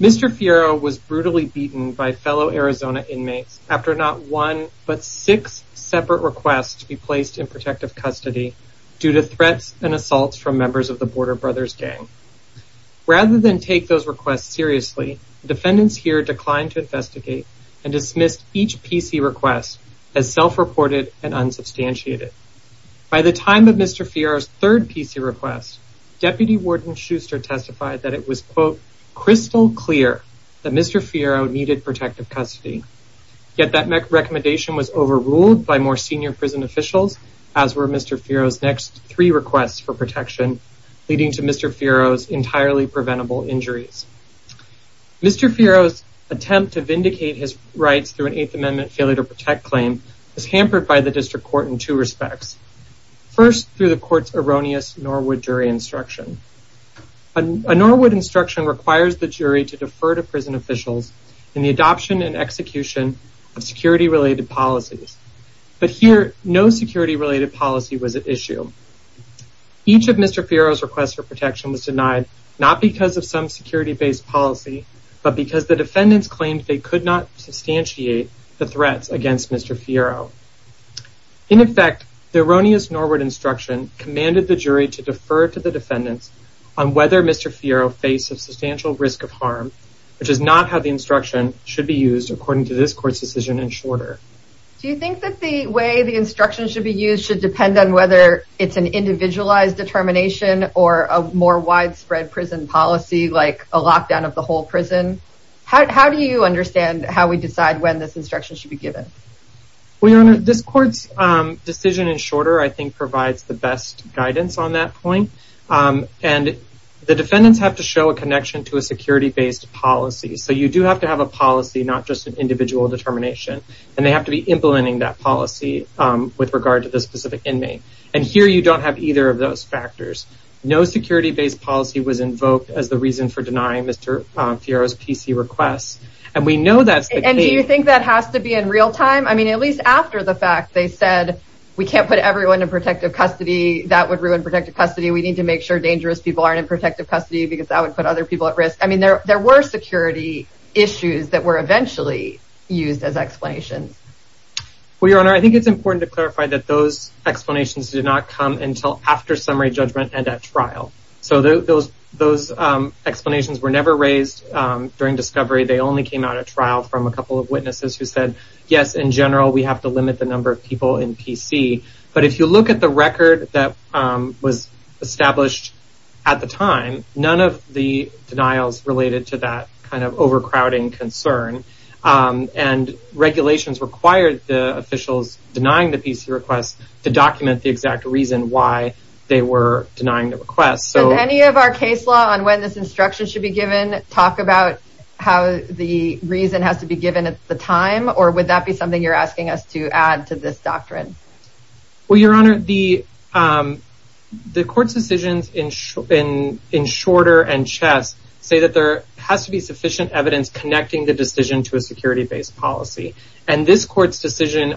Mr. Fierro was brutally beaten by fellow Arizona inmates after not one but six separate requests to be placed in protective custody due to threats and assaults from members of the Border Brothers Gang. Rather than take those requests seriously, defendants here declined to investigate and dismissed each PC request as self-reported and unsubstantiated. By the time of Mr. Fierro's third PC request, Deputy Warden Schuster testified that it was quote crystal clear that Mr. Fierro needed protective custody. Yet that recommendation was overruled by more senior prison officials as were Mr. Fierro's next three requests for protection leading to Mr. Fierro's entirely preventable injuries. Mr. Fierro's attempt to vindicate his rights through an Eighth Amendment failure to protect claim was hampered by the district court in two respects. First through the court's erroneous Norwood jury instruction. A Norwood instruction requires the jury to defer to prison officials in the adoption and execution of security-related policies. But here, no security-related policy was at issue. Each of Mr. Fierro's requests for protection was denied not because of some security-based policy but because the defendants claimed they could not substantiate the threats against Mr. Fierro. In effect, the erroneous Norwood instruction commanded the jury to defer to the defendants on whether Mr. Fierro faced a substantial risk of harm which is not how the instruction should be used according to this court's decision in Shorter. Do you think that the way the instruction should be used should depend on whether it's an individualized determination or a more widespread prison policy like a lockdown of the whole prison? How do you understand how we decide when this instruction should be given? Well, Your Honor, this court's decision in Shorter I think provides the best guidance on that point. And the defendants have to show a connection to a security-based policy. So you do have to have a policy, not just an individual determination. And they have to be implementing that policy with regard to the specific inmate. And here, you don't have either of those factors. No security-based policy was invoked as the reason for denying Mr. Fierro's PC requests. And we know that's the case. And do you think that has to be in real time? I mean, at least after the fact they said, we can't put everyone in protective custody. That would ruin protective custody. We need to make sure dangerous people aren't in protective custody because that would put other people at risk. I mean, there were security issues that were eventually used as explanations. Well, Your Honor, I think it's important to clarify that those explanations did not come until after summary judgment and at trial. So those explanations were never raised during discovery. They only came out at trial from a couple of witnesses who said, yes, in general, we have to limit the number of people in PC. But if you look at the record that was established at the time, none of the denials related to that kind of overcrowding concern. And regulations required the officials denying the PC requests to document the exact reason why they were denying the request. So any of our case law on when this instruction should be given, talk about how the reason has to be given at the time, or would that be something you're asking us to add to this doctrine? Well, Your Honor, the court's decisions in Shorter and Chess say that there has to be sufficient evidence connecting the decision to a security-based policy. And this court's decision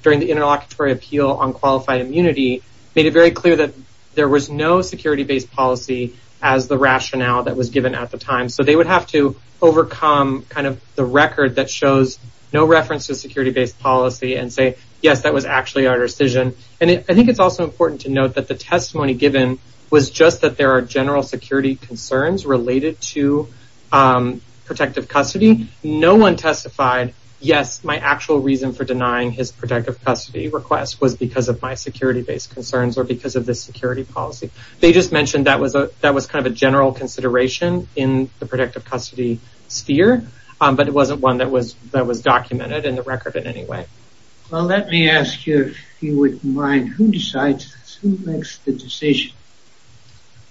during the interlocutory appeal on qualified immunity made it very clear that there was no security-based policy as the rationale that was given at the time. So they would have to overcome kind of the record that shows no reference to security-based policy and say, yes, that was actually our decision. And I think it's also important to note that the testimony given was just that there are general security concerns related to protective custody. No one testified, yes, my actual reason for denying his protective custody request was because of my security-based concerns or because of this security policy. They just mentioned that was kind of a general consideration in the protective policy that was documented in the record in any way. Well, let me ask you if you wouldn't mind, who decides, who makes the decision?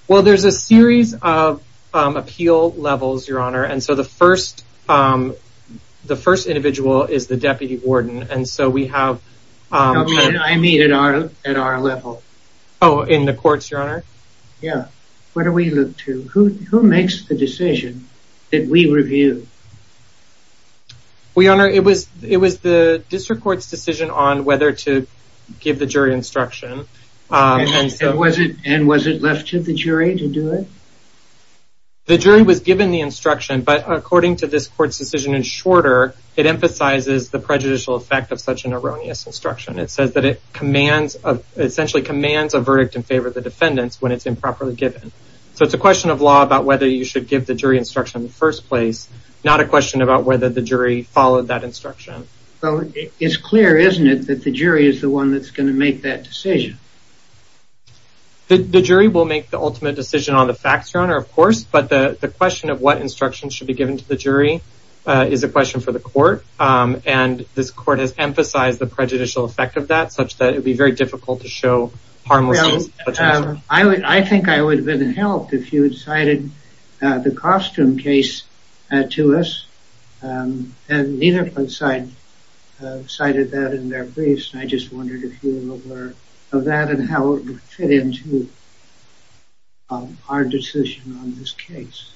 Well, there's a series of appeal levels, Your Honor, and so the first individual is the deputy warden, and so we have... I mean at our level. Oh, in the courts, Your Honor? Yeah, what do we look to? Who makes the decision that we review? Well, Your Honor, it was the district court's decision on whether to give the jury instruction. And was it left to the jury to do it? The jury was given the instruction, but according to this court's decision in Shorter, it emphasizes the prejudicial effect of such an erroneous instruction. It says that it essentially commands a verdict in favor of the defendants when it's improperly given. So it's a question of law about whether you should give the jury instruction in the first place, not a question about whether the jury followed that instruction. Well, it's clear, isn't it, that the jury is the one that's going to make that decision? The jury will make the ultimate decision on the facts, Your Honor, of course, but the question of what instruction should be given to the jury is a question for the court, and this court has very difficult to show harmlessness. I think I would have been helped if you had cited the costume case to us, and neither side cited that in their briefs. And I just wondered if you were aware of that and how it would fit into our decision on this case.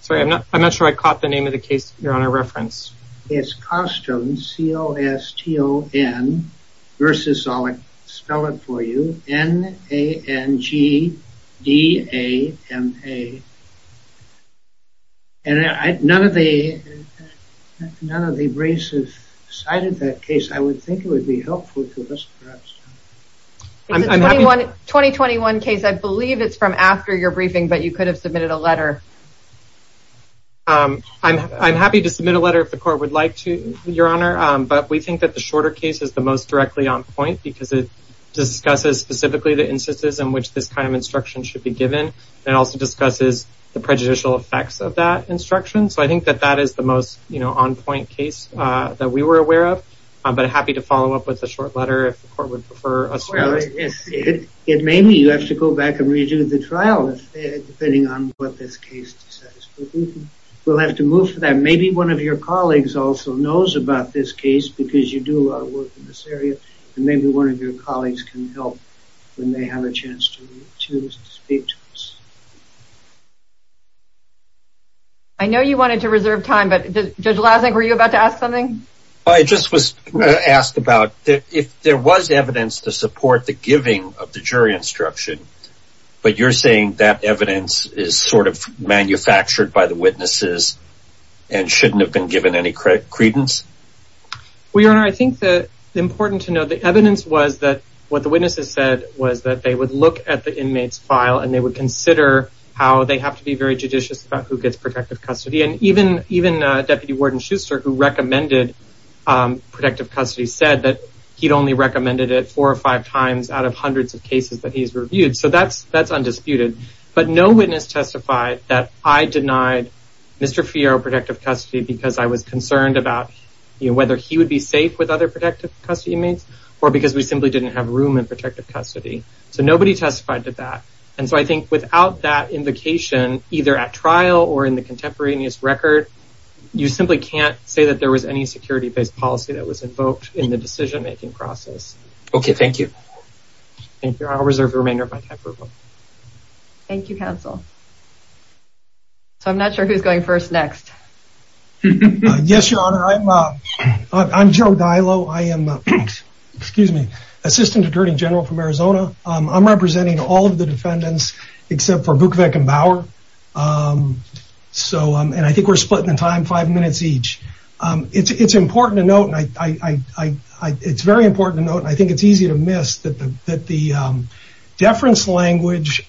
Sorry, I'm not sure I caught the name of the case, Your Honor, referenced. It's costume, C-O-S-T-O-N, versus, I'll spell it for you, N-A-N-G-D-A-M-A. And none of the briefs have cited that case. I would think it would be helpful to us, perhaps. It's a 2021 case. I believe it's from after your briefing, but you could have submitted a letter. I'm happy to submit a letter if the court would like to, Your Honor, but we think that the shorter case is the most directly on point because it discusses specifically the instances in which this kind of instruction should be given. It also discusses the prejudicial effects of that instruction, so I think that that is the most, you know, on point case that we were aware of, but I'm happy to follow up with a short letter if the court would prefer us to. Well, it may be you have to go back and redo the trial, depending on what this case is. But we'll have to move for that. Maybe one of your colleagues also knows about this case, because you do a lot of work in this area, and maybe one of your colleagues can help when they have a chance to speak to us. I know you wanted to reserve time, but Judge Lasnik, were you about to ask something? I just was going to ask about if there was evidence to support the giving of the jury instruction, but you're saying that evidence is sort of manufactured by the witnesses and shouldn't have been given any credence? Well, Your Honor, I think that it's important to know the evidence was that what the witnesses said was that they would look at the inmate's file and they would consider how they have to be very judicious about who gets protective custody. And even Deputy Warden Schuster, who recommended protective custody, said that he'd only recommended it four or five times out of hundreds of cases that he's reviewed. So that's undisputed. But no witness testified that I denied Mr. Fioro protective custody because I was concerned about whether he would be safe with other protective custody inmates, or because we simply didn't have room in protective custody. So nobody testified to that. And so I think without that invocation, either at trial or in the contemporaneous record, you simply can't say that there was any security-based policy that was invoked in the decision-making process. Okay, thank you. Thank you. I'll reserve the remainder of my time. Thank you, counsel. So I'm not sure who's going first next. Yes, Your Honor. I'm Joe Diallo. I am, excuse me, Assistant Attorney General from Arizona. I'm representing all of the defendants except for Vukovic and Bauer. So, and I think we're splitting the time five minutes each. It's important to note, and it's very important to note, and I think it's easy to miss that the deference language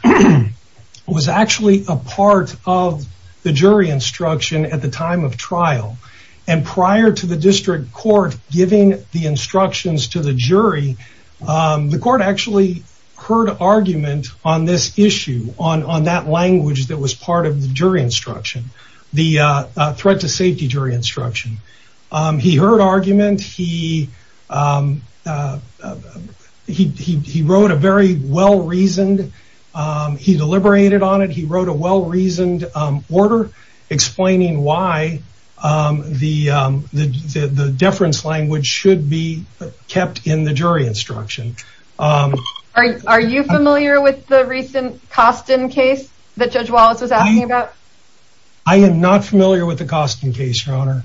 was actually a part of the jury instruction at the time of trial. And prior to the district court giving the instructions to the jury, the court actually heard argument on this issue, on that language that was part of the jury instruction, the threat to safety jury instruction. He heard argument. He wrote a very well-reasoned, he deliberated on it. He wrote a well-reasoned order explaining why the deference language should be kept in the jury instruction. Are you familiar with the recent Costin case that Judge Wallace was asking about? I am not familiar with the Costin case, Your Honor.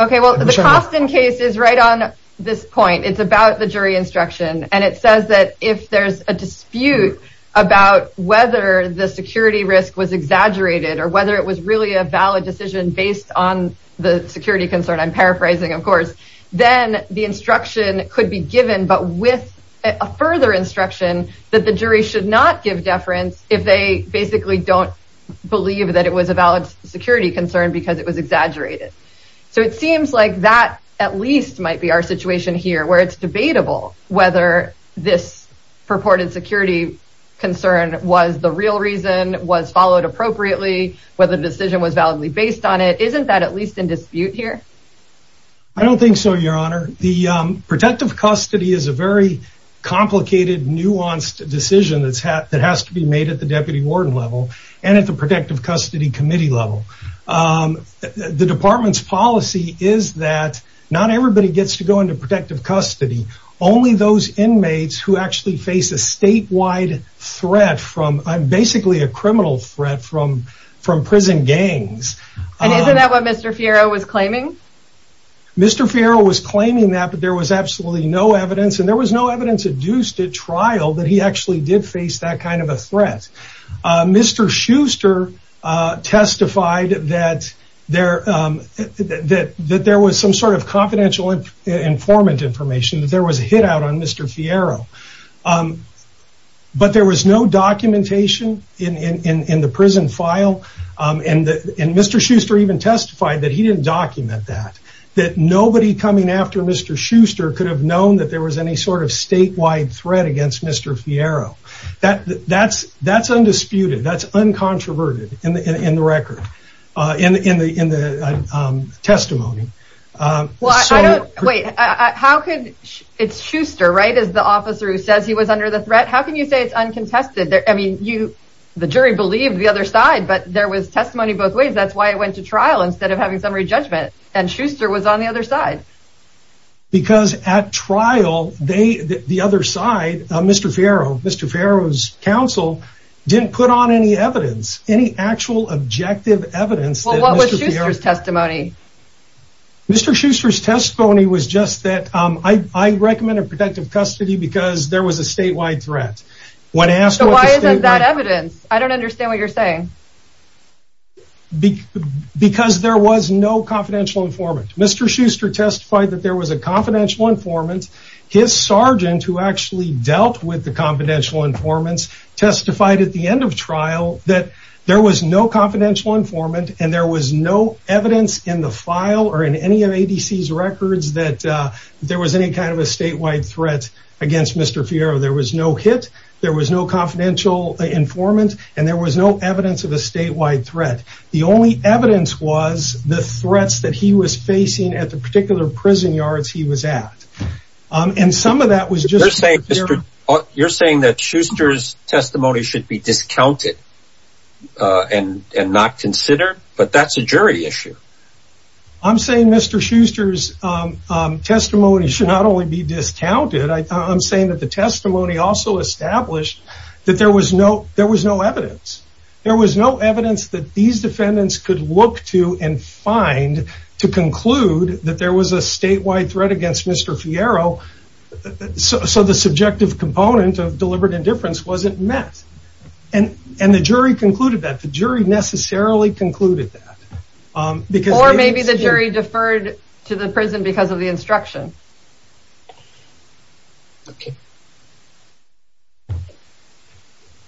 Okay, well, the Costin case is right on this point. It's about the jury instruction, and it says that if there's a dispute about whether the security risk was exaggerated, or whether it was really a valid decision based on the security concern, I'm paraphrasing, of course, then the instruction could be given, but with a further instruction that the jury should not give deference if they basically don't believe that it was a valid security concern because it was exaggerated. So it seems like that at least might be our situation here, where it's debatable whether this purported security concern was the real reason, was followed appropriately, whether the decision was validly based on it. Isn't that at least in dispute here? I don't think so, Your Honor. The protective custody is a very complicated, nuanced decision that has to be made at the deputy warden level and at the protective custody committee level. The department's policy is that not everybody gets to go into protective custody, only those inmates who actually face a statewide threat from basically a criminal threat from prison gangs. And isn't that what Mr. Fiero was claiming? Mr. Fiero was claiming that, but there was absolutely no evidence, and there was no evidence adduced at trial that he actually did face that kind of a threat. Mr. Schuster testified that there was some sort of confidential informant information, that there was a hit out on Mr. Fiero, but there was no documentation in the prison file, and Mr. Schuster even testified that he didn't document that, that nobody coming after Mr. Schuster could have known that there was any sort of statewide threat against Mr. Fiero. That's undisputed, that's uncontroverted in the record, in the testimony. Well, I don't, wait, how could, it's Schuster, right, is the officer who says he was under the threat? How can you say it's uncontested? I mean, the jury believed the other side, but there was testimony both ways. That's why it went to trial instead of having some re-judgment, and Schuster was on the other side. Because at trial, they, the other side, Mr. Fiero, Mr. Fiero's counsel, didn't put on any evidence, any actual objective evidence. Well, what was Schuster's testimony? Mr. Schuster's testimony was just that, I recommend a protective custody because there was a statewide threat. When asked, why isn't that evidence? I don't know. There was no confidential informant. Mr. Schuster testified that there was a confidential informant. His sergeant, who actually dealt with the confidential informants, testified at the end of trial that there was no confidential informant and there was no evidence in the file or in any of ADC's records that there was any kind of a statewide threat against Mr. Fiero. There was no hit, there was no confidential informant, and there was no evidence of a statewide threat. The only evidence was the threats that he was facing at the particular prison yards he was at. And some of that was just- You're saying that Schuster's testimony should be discounted and not considered, but that's a jury issue. I'm saying Mr. Schuster's testimony should not only be discounted, I'm saying that the testimony also established that there was no evidence. There was no evidence that these defendants could look to and find to conclude that there was a statewide threat against Mr. Fiero, so the subjective component of deliberate indifference wasn't met. And the jury concluded that. The jury necessarily concluded that. Or maybe the jury deferred to the prison because of the instruction. Okay.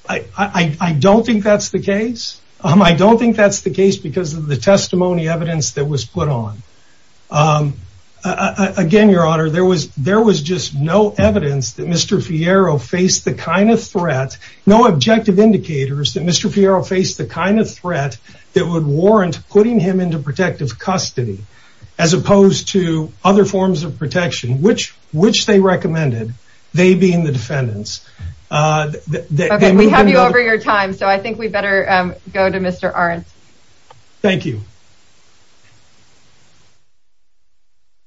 I don't think that's the case. I don't think that's the case because of the testimony evidence that was put on. Again, Your Honor, there was just no evidence that Mr. Fiero faced the kind of threat, no objective indicators that Mr. Fiero faced the kind of threat that would which they recommended, they being the defendants. We have you over your time, so I think we better go to Mr. Arndt. Thank you.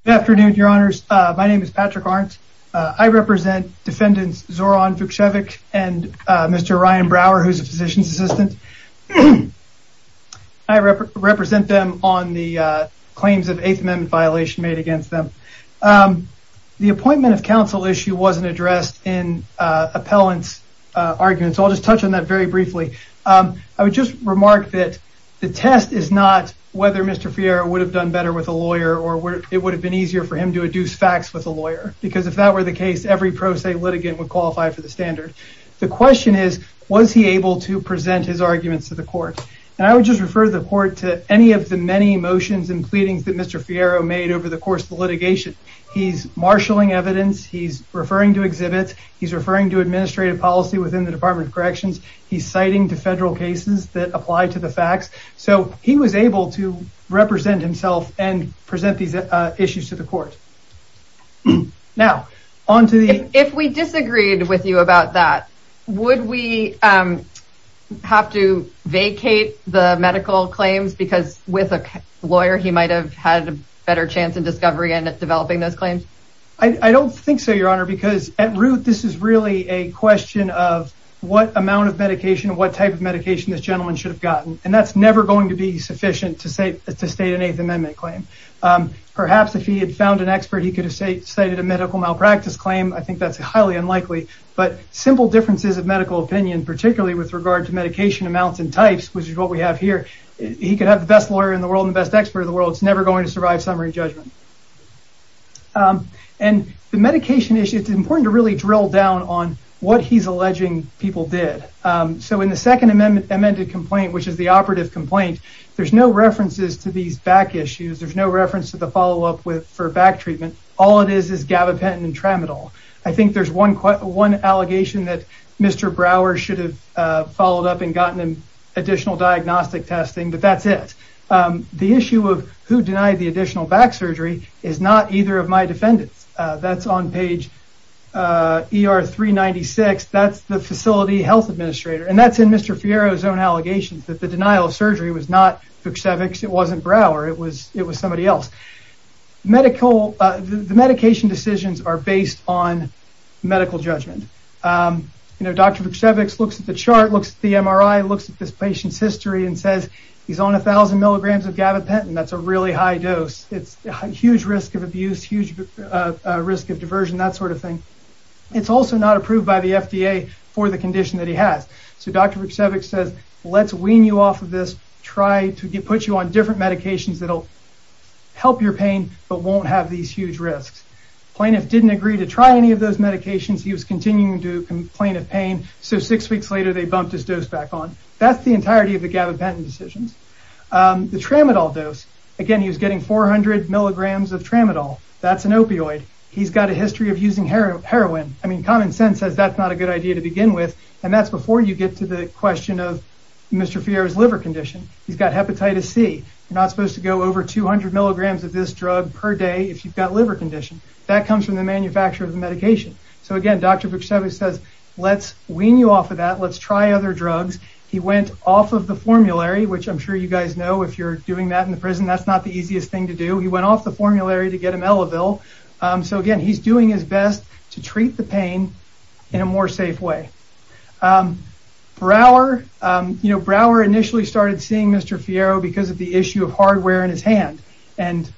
Good afternoon, Your Honors. My name is Patrick Arndt. I represent defendants Zoran Vuksevic and Mr. Ryan Brower, who's a physician's assistant. I represent them on the claims of the appointment of counsel issue wasn't addressed in appellant's argument, so I'll just touch on that very briefly. I would just remark that the test is not whether Mr. Fiero would have done better with a lawyer or where it would have been easier for him to adduce facts with a lawyer, because if that were the case, every pro se litigant would qualify for the standard. The question is, was he able to present his arguments to the court? And I would just refer the court to any of the many motions and pleadings that Mr. Fiero made over the course of the marshalling evidence. He's referring to exhibits. He's referring to administrative policy within the Department of Corrections. He's citing to federal cases that apply to the facts, so he was able to represent himself and present these issues to the court. If we disagreed with you about that, would we have to vacate the medical claims because with a I don't think so, your honor, because at root, this is really a question of what amount of medication, what type of medication this gentleman should have gotten, and that's never going to be sufficient to state an eighth amendment claim. Perhaps if he had found an expert, he could have cited a medical malpractice claim. I think that's highly unlikely, but simple differences of medical opinion, particularly with regard to medication amounts and types, which is what we have here, he could have the best lawyer in the world and the best expert is never going to survive summary judgment. The medication issue, it's important to drill down on what he's alleging people did. In the second amended complaint, which is the operative complaint, there's no references to these back issues. There's no reference to the follow-up for back treatment. All it is is gabapentin and tramadol. I think there's one allegation that Mr. Brower should have followed up and gotten additional diagnostic testing, but that's it. The issue of who denied the additional back surgery is not either of my defendants. That's on page ER 396. That's the facility health administrator, and that's in Mr. Fierro's own allegations that the denial of surgery was not Fuchsiewicz. It wasn't Brower. It was somebody else. The medication decisions are based on medical judgment. Dr. Fuchsiewicz looks at the MRI, looks at this patient's history, and says he's on a thousand milligrams of gabapentin. That's a really high dose. It's a huge risk of abuse, huge risk of diversion, that sort of thing. It's also not approved by the FDA for the condition that he has, so Dr. Fuchsiewicz says, let's wean you off of this. Try to put you on different medications that'll help your pain but won't have these huge risks. Plaintiff didn't agree to try any of those back on. That's the entirety of the gabapentin decisions. The tramadol dose, again, he was getting 400 milligrams of tramadol. That's an opioid. He's got a history of using heroin. I mean, common sense says that's not a good idea to begin with, and that's before you get to the question of Mr. Fierro's liver condition. He's got hepatitis C. You're not supposed to go over 200 milligrams of this drug per day if you've got liver condition. That comes from the manufacturer of the medication. Again, Dr. Fuchsiewicz says, let's wean you off of that. Let's try other drugs. He went off of the formulary, which I'm sure you guys know if you're doing that in the prison, that's not the easiest thing to do. He went off the formulary to get Imelovil. Again, he's doing his best to treat the pain in a more safe way. Brouwer initially started seeing Mr. Fierro because of the issue of hardware in his hand, and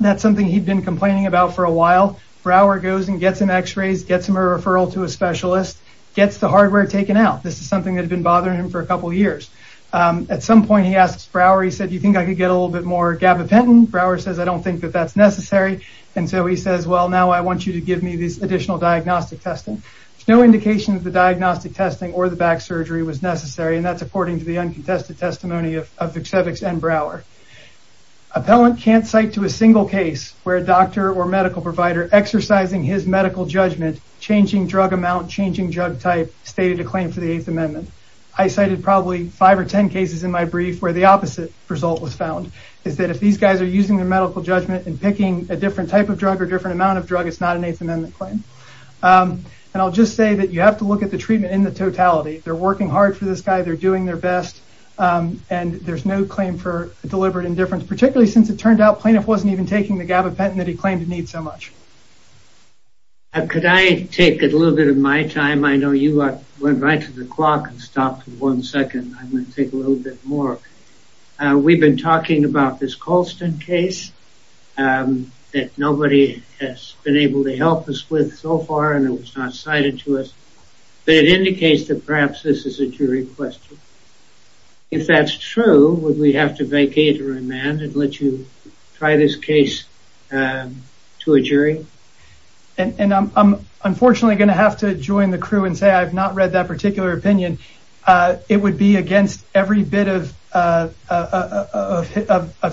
that's something he'd been complaining about for a while. Brouwer goes and gets him x-rays, gets him a referral to a specialist, gets the hardware taken out. This is something that had been bothering him for a couple years. At some point, he asked Brouwer, he said, you think I could get a little bit more gabapentin? Brouwer says, I don't think that that's necessary, and so he says, well, now I want you to give me this additional diagnostic testing. There's no indication that the diagnostic testing or the back surgery was necessary, and that's according to the uncontested testimony of Fuchsiewicz and Brouwer. Appellant can't cite to a single case where a doctor or medical provider exercising his medical judgment, changing drug amount, changing drug type, stated a claim for the Eighth Amendment. I cited probably five or ten cases in my brief where the opposite result was found, is that if these guys are using their medical judgment and picking a different type of drug or different amount of drug, it's not an Eighth Amendment claim. I'll just say that you have to look at the treatment in the totality. They're working hard for this guy, they're doing their best, and there's no claim for deliberate indifference, particularly since it turned out Plaintiff wasn't even taking the gabapentin that he claimed to need so much. Could I take a little bit of my time? I know you went right to the clock and stopped for one second. I'm going to take a little bit more. We've been talking about this Colston case that nobody has been able to help us with so far, and it was not cited to us, but it indicates that perhaps this is a jury question. If that's true, would we have to vacate or remand and let you try this case to a jury? And I'm unfortunately going to have to join the crew and say I have not read that particular opinion. It would be against every bit of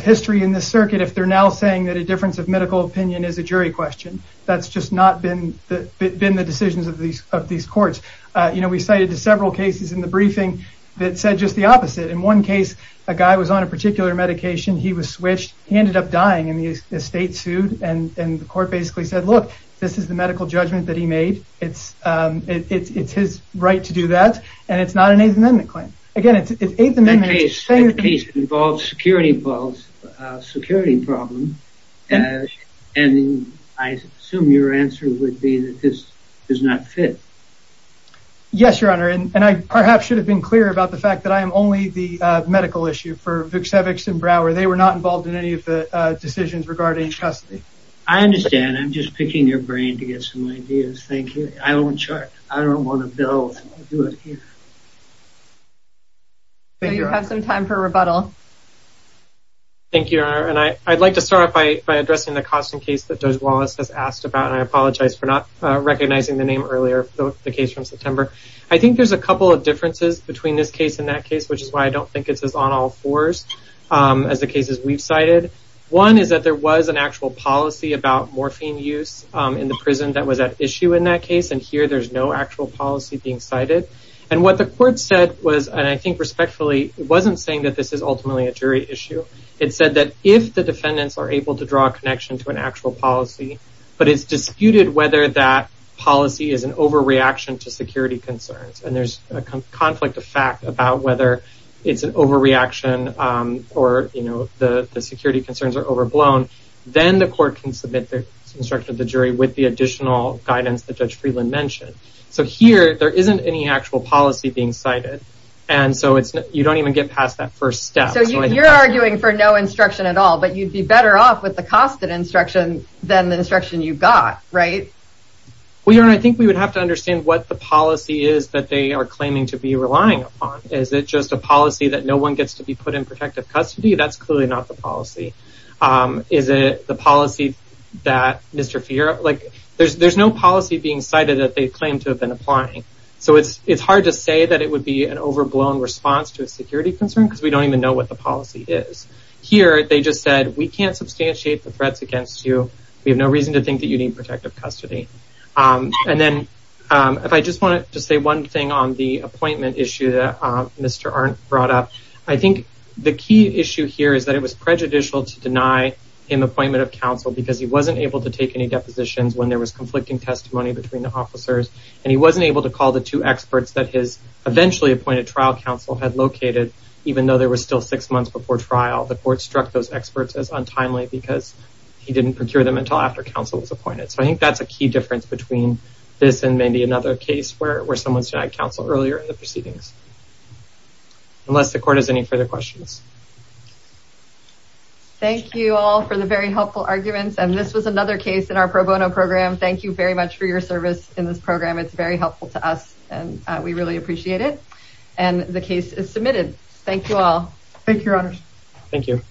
history in this circuit if they're now saying that a difference of medical opinion is a jury question. That's just not been the decisions of these courts. We cited several cases in the briefing that said just the opposite. In one case, a guy was on a particular medication. He was switched. He ended up dying, and the estate sued, and the court basically said, look, this is the medical judgment that he made. It's his right to do that, and it's not an Eighth Amendment claim. Again, it's Eighth Amendment. That case involves security problems, and I assume your answer would be that this does not fit. Yes, Your Honor, and I perhaps should have been clear about the fact that I am only the medical issue for Vuksevichs and Brower. They were not involved in any of the decisions regarding custody. I understand. I'm just picking your brain to get some ideas. Thank you. I don't want to build. You have some time for rebuttal. Thank you, Your Honor, and I'd like to start off by addressing the Coston case that Judge Wallace has asked about, and I apologize for not September. I think there's a couple of differences between this case and that case, which is why I don't think it's as on all fours as the cases we've cited. One is that there was an actual policy about morphine use in the prison that was at issue in that case, and here there's no actual policy being cited. What the court said was, and I think respectfully, it wasn't saying that this is ultimately a jury issue. It said that if the defendants are able to draw a connection to an actual policy, but it's disputed whether that policy is an overreaction to security concerns, and there's a conflict of fact about whether it's an overreaction or the security concerns are overblown, then the court can submit the instruction of the jury with the additional guidance that Judge Freeland mentioned. Here, there isn't any actual policy being cited, and so you don't even get past that first step. You're arguing for no instruction at all, but you'd be better off with the costed instruction than the instruction you got, right? Well, your honor, I think we would have to understand what the policy is that they are claiming to be relying upon. Is it just a policy that no one gets to be put in protective custody? That's clearly not the policy. Is it the policy that Mr. Fiera... There's no policy being cited that they claim to have been applying, so it's hard to say that it would be an overblown response to a security concern because we don't even know what the policy is. Here, they just said, we can't substantiate the threats against you. We have no reason to think that you need protective custody, and then if I just want to say one thing on the appointment issue that Mr. Arndt brought up, I think the key issue here is that it was prejudicial to deny him appointment of counsel because he wasn't able to take any depositions when there was conflicting testimony between the officers, and he wasn't able to call the two experts that his eventually appointed trial counsel had located, even though there were still six months before trial. The court struck those experts as untimely because he didn't procure them until after counsel was appointed, so I think that's a key difference between this and maybe another case where someone's denied counsel earlier in the proceedings, unless the court has any further questions. Thank you all for the very helpful arguments, and this was another case in our pro bono program. Thank you very much for your service in this program. It's very helpful to us, and we really appreciate it, and the case is submitted. Thank you all. Thank you, Your Honor. Thank you.